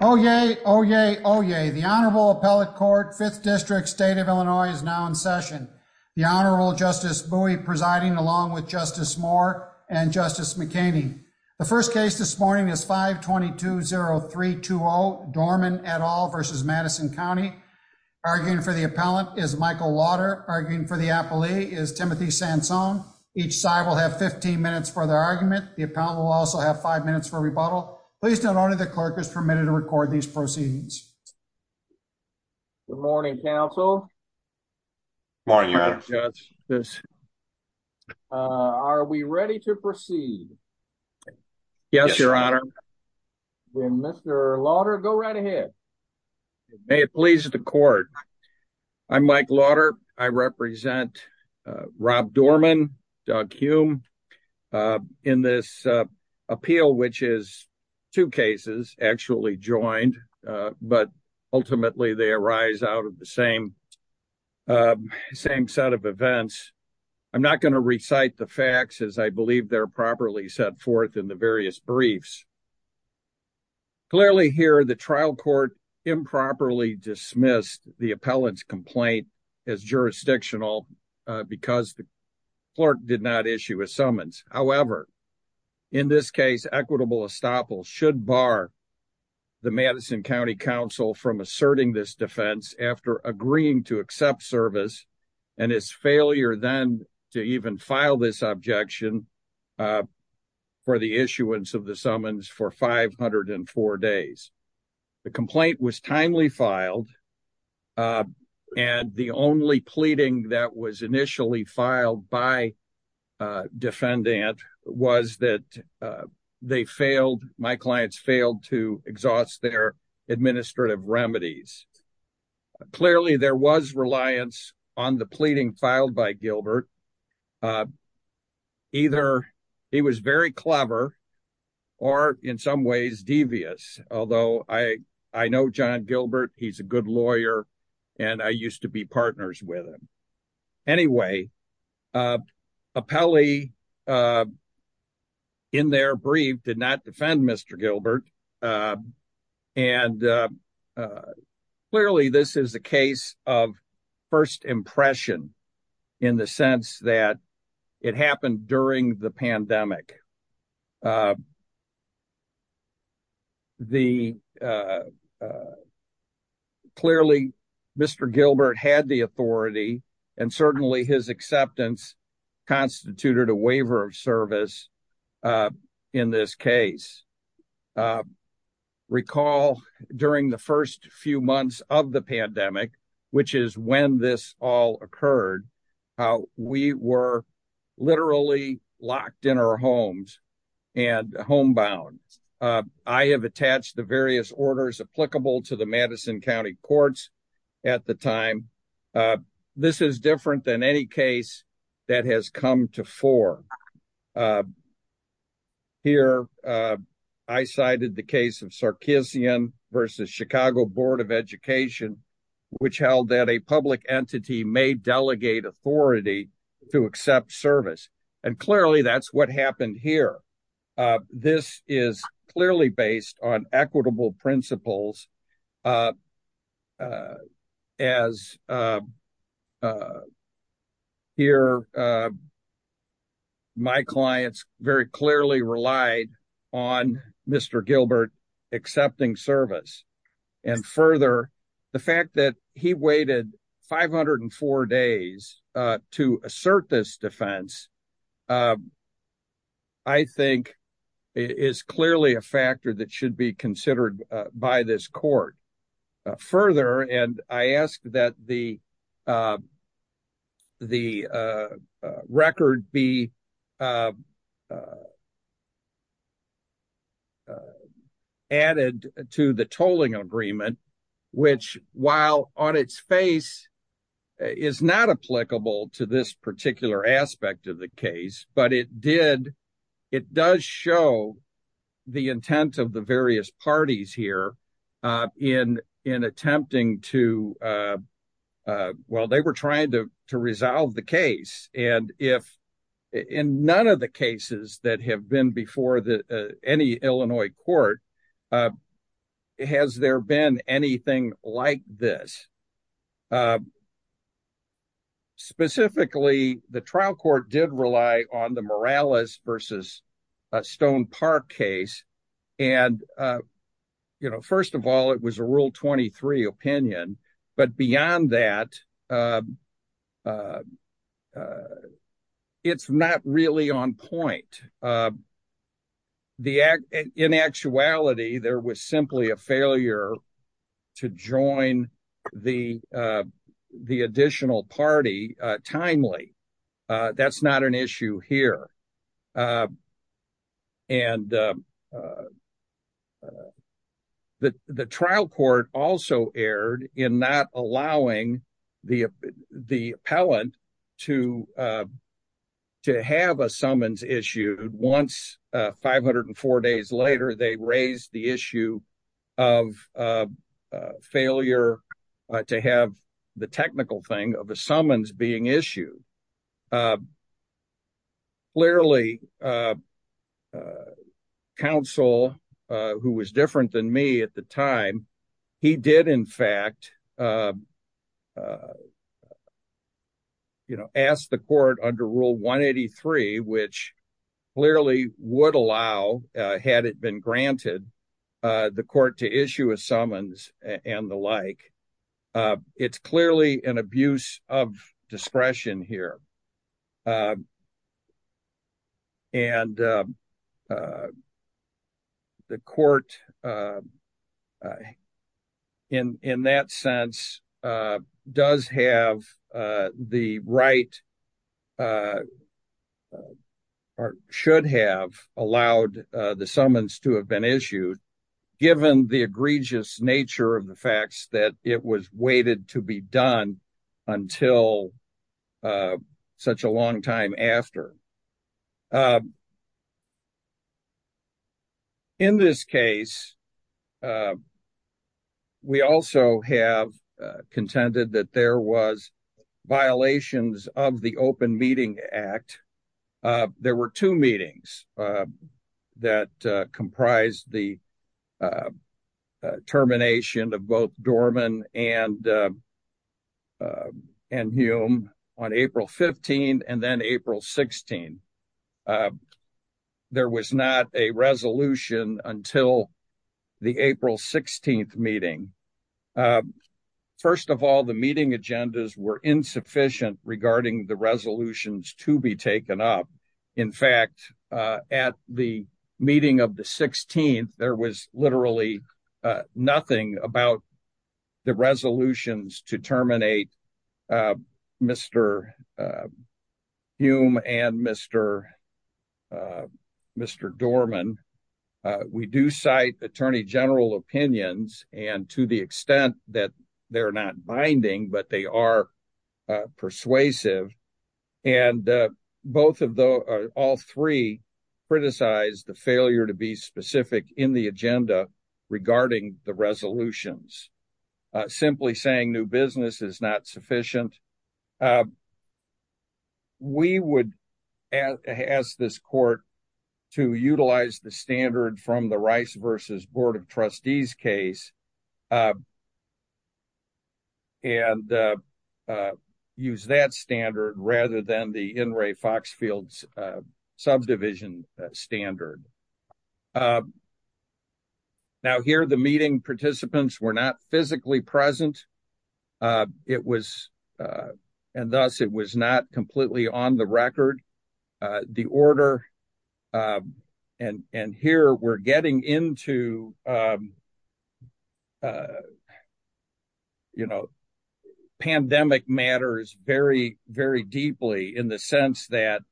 Oyez, oyez, oyez. The Honorable Appellate Court, 5th District, State of Illinois, is now in session. The Honorable Justice Bowie presiding along with Justice Moore and Justice McCain. The first case this morning is 5-220-320, Dorman v. Madison County. Arguing for the appellant is Michael Lauder. Arguing for the appellee is Timothy Sansone. Each side will have 15 minutes for their argument. The appellant will also have 5 minutes for rebuttal. Please note only the proceedings. Good morning, counsel. Good morning, your honor. Are we ready to proceed? Yes, your honor. Will Mr. Lauder go right ahead? May it please the court. I'm Mike Lauder. I represent Rob Dorman, Doug Hume, and I'm a lawyer. I've been in this position for a long time. In this appeal, which is two cases actually joined, but ultimately they arise out of the same set of events, I'm not going to recite the facts as I believe they're properly set forth in the various briefs. Clearly here, the trial improperly dismissed the appellant's complaint as jurisdictional because the clerk did not issue a summons. However, in this case, equitable estoppel should bar the Madison County Council from asserting this defense after agreeing to accept service and its failure then to even file this objection for the issuance of the summons for 504 days. The complaint was timely filed, and the only pleading that was initially filed by defendant was that my clients failed to exhaust their administrative remedies. Clearly, there was reliance on the pleading filed by Gilbert. Either he was very clever or in some ways devious, although I know John Gilbert, he's a good lawyer, and I used to be partners with him. Anyway, Appelli in their brief did not defend Mr. Gilbert, and clearly this is a case of first impression in the sense that it happened during the pandemic. Clearly, Mr. Gilbert had the authority, and certainly his acceptance constituted a waiver of service in this case. Recall during the first few months of the pandemic, which is when this all occurred, how we were literally locked in our homes and homebound. I have attached the various orders applicable to the Madison County Courts at the time. This is different than any case that has come to form. Here, I cited the case of Sarkeesian versus Chicago Board of Education, which held that a public entity may delegate authority to accept service, and clearly that's what happened here. This is clearly based on equitable principles, as here, my clients very clearly relied on Mr. Gilbert accepting service. Further, the fact that he waited 504 days to assert this defense, I think, is clearly a factor that should be considered by this court. Further, I ask that the record be added to the tolling agreement, which, while on its face, is not applicable to this particular aspect of the case, but it does show the intent of the various parties here in attempting to, well, they were trying to resolve the case. In none of the cases that have been before any Illinois court, has there been anything like this. Specifically, the trial court did rely on the Morales versus Stone Park case. First of all, it was a Rule 23 opinion, but beyond that, it's not really on point. In actuality, there was simply a failure to join the additional party timely. That's not an issue here. The trial court also erred in not allowing the appellant to have a summons issued. Once, 504 days later, they raised the issue of failure to have the technical thing of a summons being issued. Clearly, the counsel, who was different than me at the time, he did in fact ask the court under Rule 183, which clearly would allow, had it been granted, the court to issue a summons and the like. It's clearly an abuse of discretion here. And the court, in that sense, should have allowed the summons to have been issued, given the egregious nature of the facts that it was waited to be done until such a long time after. In this case, we also have contended that there was violations of the Open Meeting Act. There were two meetings that comprised the termination of both Dorman and Hume on April 15 and then April 16. There was not a resolution until the April 16 meeting. First of all, the meeting agendas were insufficient regarding the resolutions to be taken up. In fact, at the meeting of the 16th, there was literally nothing about the resolutions to terminate the termination of both Dorman and Hume on April 16 and April 16. We do cite Attorney General opinions, and to the extent that they're not binding, but they are persuasive. And all three criticize the failure to be specific in the agenda regarding the termination of both Dorman and Hume on April 16 and April 16, and that the termination of both Dorman and Hume on April 16 and April 16 is not sufficient. We would ask this court to utilize the standard from the Rice v. Board of Trustees case and use that standard rather than the N. Ray Foxfield's subdivision standard. Now, here the meeting participants were not physically present, and thus it was not completely on the record. The order, and here we're getting into a, you know, pandemic matters very, very deeply in the sense that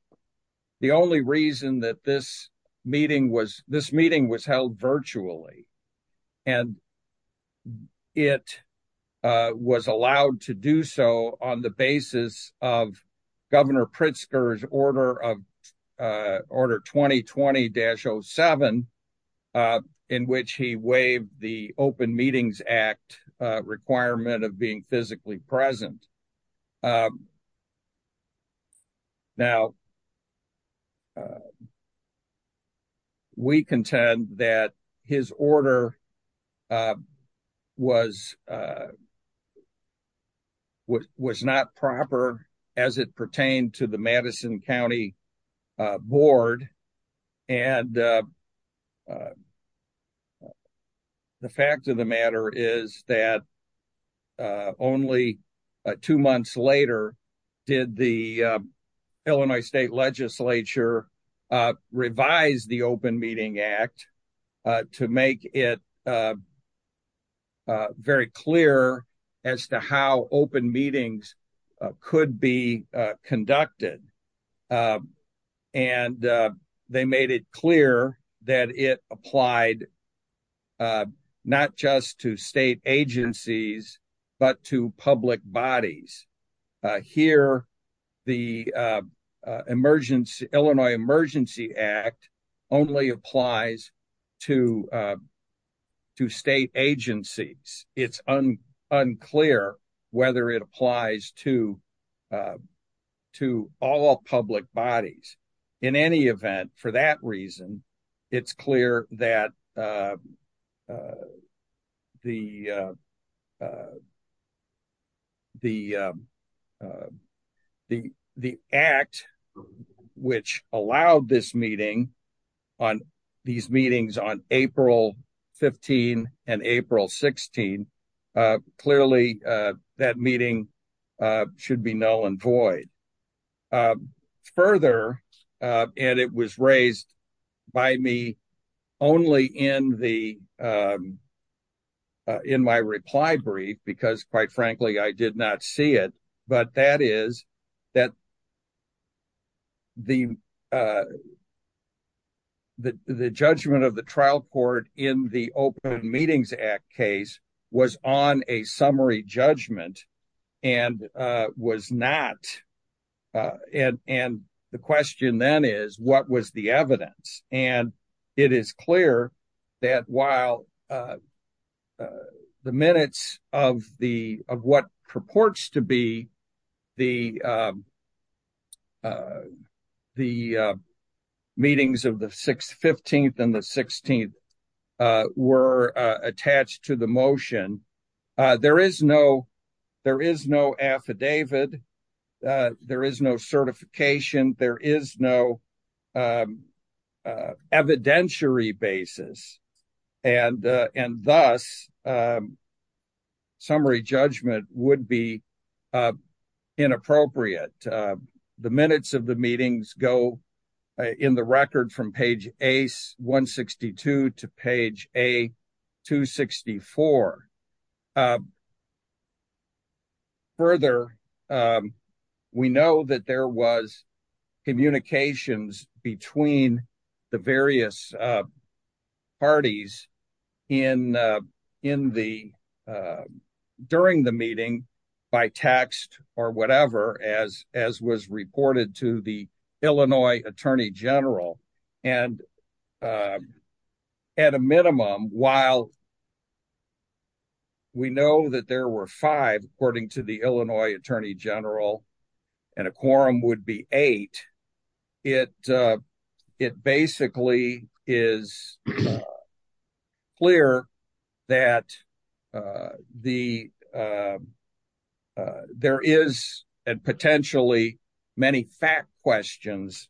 the only reason that this meeting was, this meeting was held virtually, and it was allowed to do so on the basis of Open Meetings Act requirement of being physically present. Now, we contend that his order was not proper as it pertained to the Madison County Board, and the fact of the matter is that only two months later did the Illinois State Legislature revise the Open Meeting Act to make it very clear as to how Open Meetings could be conducted. And they made it clear that it applied not just to state agencies but to public bodies. Here, the Illinois Emergency Act only applies to state agencies. It's unclear whether it applies to all public bodies. In any event, for that reason, it's clear that the act which allowed this meeting, these meetings on April 15 and April 16, clearly that meeting should be null and void. Further, and it was raised by me only in my reply brief because quite frankly I did not see it, but that is that the judgment of the trial court in the Open Meetings Act case was on a summary judgment and was not, and the question then is what was the evidence? And it is clear that while the minutes of what purports to be the meetings of the 15th and the 16th were attached to the motion, there is no affidavit, there is no certification, there is no basis. And thus, summary judgment would be inappropriate. The minutes of the meetings go in the record from page A162 to page A264. Further, we know that there was communication between the various parties during the meeting by text or whatever as was reported to the Illinois Attorney General. And at a minimum, while we know that there were five, according to Illinois Attorney General, and a quorum would be eight, it basically is clear that there is and potentially many fact questions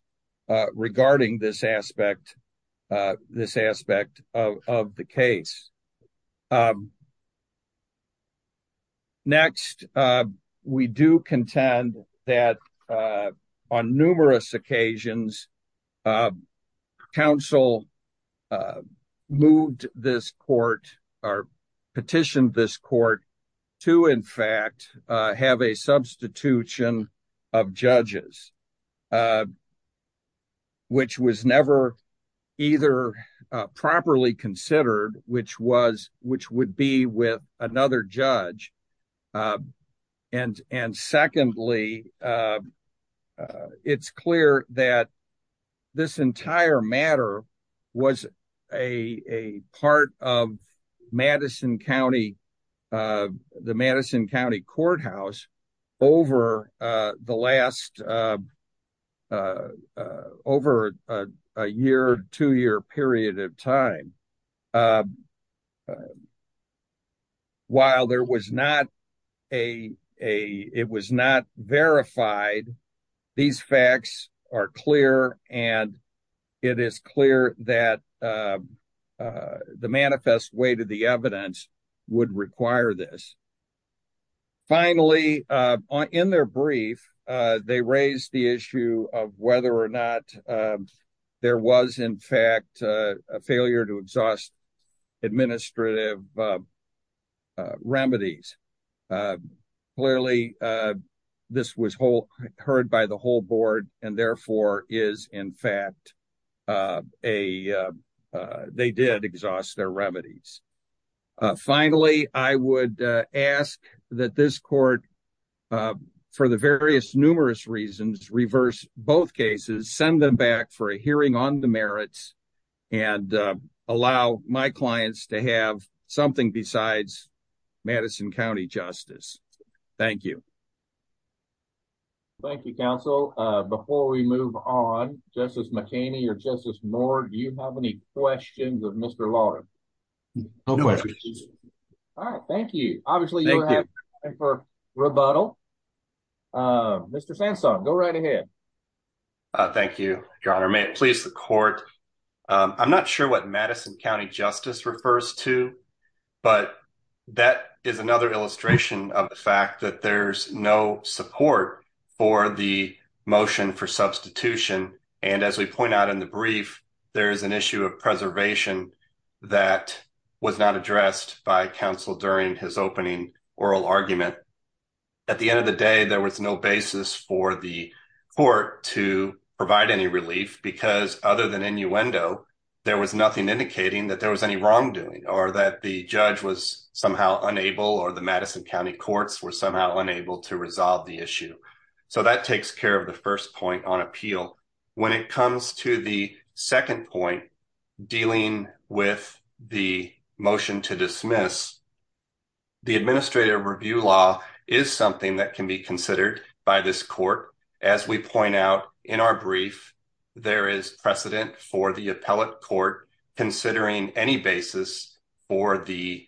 regarding this aspect of the case. Next, we do contend that on numerous occasions, counsel moved this court or petitioned this court to in fact have a substitution of judges, which was never either properly considered, which would be with another judge. And secondly, it's clear that this entire matter was a part of the Madison County Courthouse over the last, over a year, two year period of time. While there was not a, it was not verified, these facts are clear, and it is clear that the manifest way to the evidence would require this. Finally, in their brief, they raised the issue of whether or not there was in fact a failure to exhaust administrative remedies. Clearly, this was heard by the whole board and therefore is in fact a, they did exhaust their remedies. Finally, I would ask that this court, for the various numerous reasons, reverse both cases, send them back for a hearing on the merits and allow my clients to have something besides Madison County Justice. Thank you. Thank you, counsel. Before we move on, Justice McKinney or Justice Moore, do you have any questions of Mr. Lawton? All right, thank you. Obviously, you have time for rebuttal. Mr. Sansone, go right ahead. Thank you, your honor. May it please the court. I'm not sure what Madison County Justice refers to, but that is another illustration of the fact that there's no support for the motion for substitution. And as we point out in the brief, there is an issue of preservation that was not addressed by counsel during his opening oral argument. At the end of the day, there was no basis for the court to provide any relief because other than innuendo, there was nothing indicating that there was any wrongdoing or that the judge was somehow unable or the Madison County courts were somehow unable to resolve the issue. So that takes care of the first point on appeal. When it comes to the second point dealing with the motion to dismiss, the administrative review law is something that can be considered by this court. As we point out in our brief, there is precedent for the appellate court considering any basis for the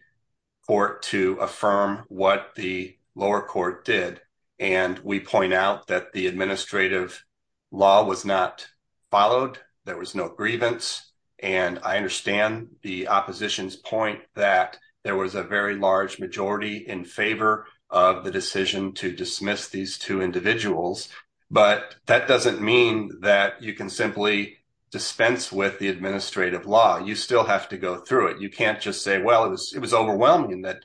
court to affirm what the lower court did. And we point out that the administrative law was not followed. There was no grievance. And I understand the opposition's point that there was a very large majority in favor of the decision to dismiss these two individuals. But that doesn't mean that you can simply dispense with the administrative law. You still have to go through it. You can't just say, well, it was overwhelming that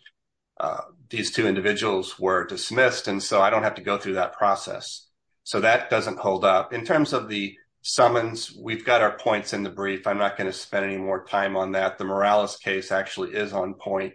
these two individuals were dismissed. And so I don't have to go through that process. So that doesn't hold up. In terms of the summons, we've got our points in the brief. I'm not going to spend any more time on that. The Morales case actually is on point.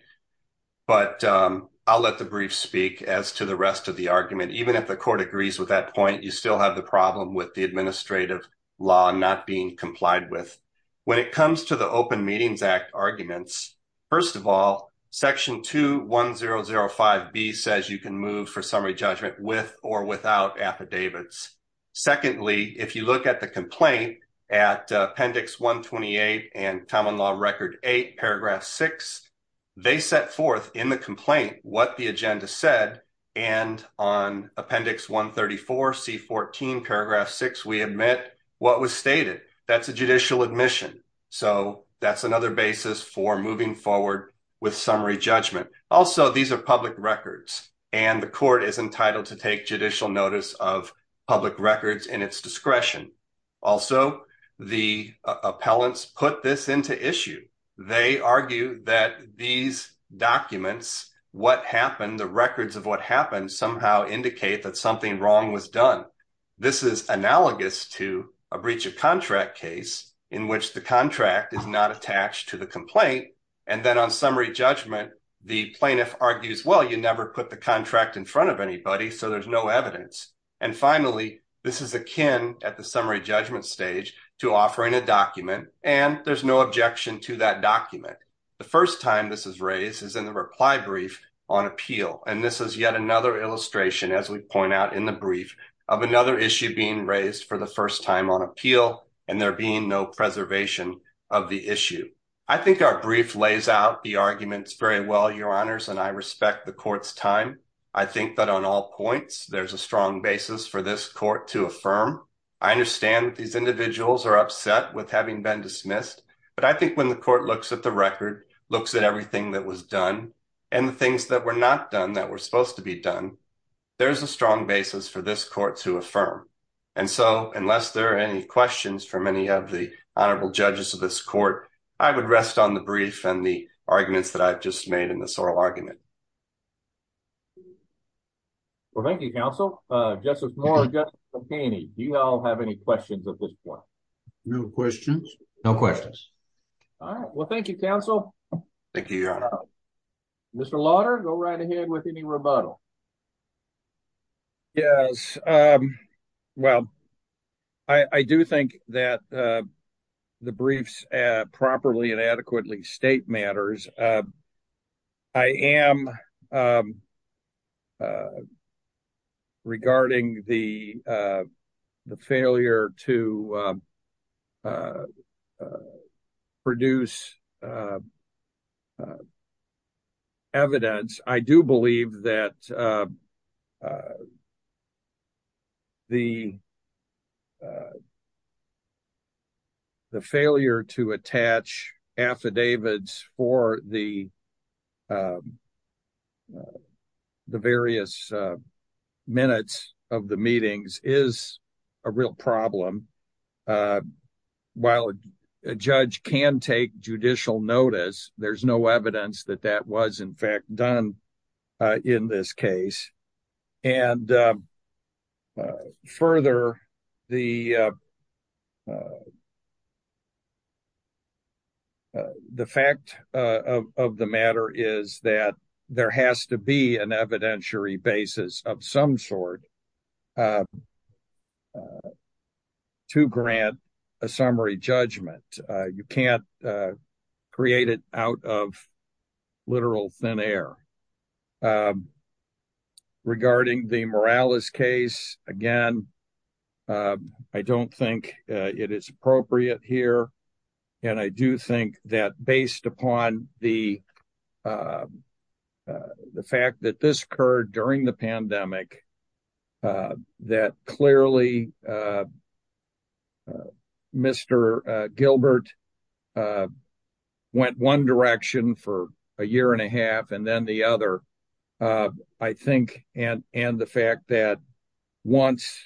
But I'll let the brief speak as to the rest of the argument. Even if the court agrees with that point, you still have the problem with the administrative law not being complied with. When it comes to the Open Meetings Act arguments, first of all, Section 21005B says you can move for summary judgment with or without affidavits. Secondly, if you look at the complaint at Appendix 128 and Common Law Record 8, Paragraph 6, they set forth in the complaint what the agenda said. And on Appendix 134, C14, Paragraph 6, we admit what was stated. That's a judicial admission. So that's another basis for moving forward with summary judgment. Also, these are public records, and the court is entitled to take judicial notice of public records in its discretion. Also, the appellants put this into issue. They argue that these documents, what happened, the records of what happened somehow indicate that something wrong was done. This is analogous to a breach of contract case in which the contract is not attached to the complaint. And then on summary judgment, the plaintiff argues, well, you never put the contract in front of anybody, so there's no evidence. And finally, this is akin at the summary judgment stage to offering a document, and there's no objection to that document. The first time this is raised is in the reply brief on appeal. And this is yet another illustration, as we point out in the brief, of another issue being raised for the first time on appeal, and there being no preservation of the issue. I think our brief lays out the arguments very well, Your Honors, and I respect the court's time. I think that on all points, there's a strong basis for this court to affirm. I understand these individuals are upset with having been dismissed, but I think when the court looks at the record, looks at everything that was done, and the things that were not done that were supposed to be done, there's a strong basis for this court to affirm. And so, unless there are any questions from any of the honorable judges of this court, I would rest on the brief and the arguments that I've just made in this oral argument. Well, thank you, counsel. Justice Moore and Justice Campaini, do you all have any questions at this point? No questions. No questions. All right. Well, thank you, counsel. Thank you, Your Honor. Mr. Lauder, go right ahead with any rebuttal. Yes. Well, I do think that the briefs properly and adequately state matters. I am regarding the failure to produce evidence. I do believe that the failure to attach affidavits for the various minutes of the meetings is a real problem. While a judge can take judicial notice, there's no evidence that that was in fact done in this case. And further, the fact of the matter is that there has to be an evidentiary basis of some sort to grant a summary judgment. You can't create it out of literal thin air. Regarding the Morales case, again, I don't think it is appropriate here. And I do think that based upon the fact that this occurred during the pandemic, that clearly Mr. Gilbert went one step further, I think, and the fact that once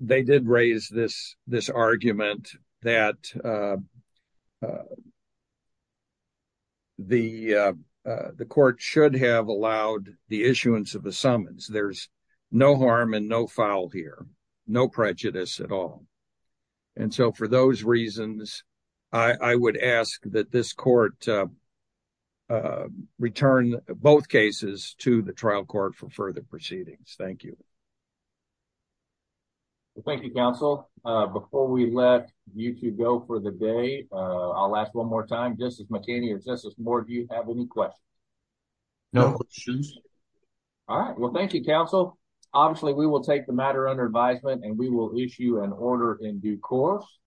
they did raise this argument that the court should have allowed the issuance of the summons. There's no harm and no foul here, no prejudice at all. And so for those reasons, I would ask that this court return both cases to the trial court for further proceedings. Thank you. Thank you, counsel. Before we let you two go for the day, I'll ask one more time, Justice McKinney or Justice Moore, do you have any questions? No questions. All right. Well, thank you, counsel. Obviously, we will take the matter under advisement and we will issue an order in due course.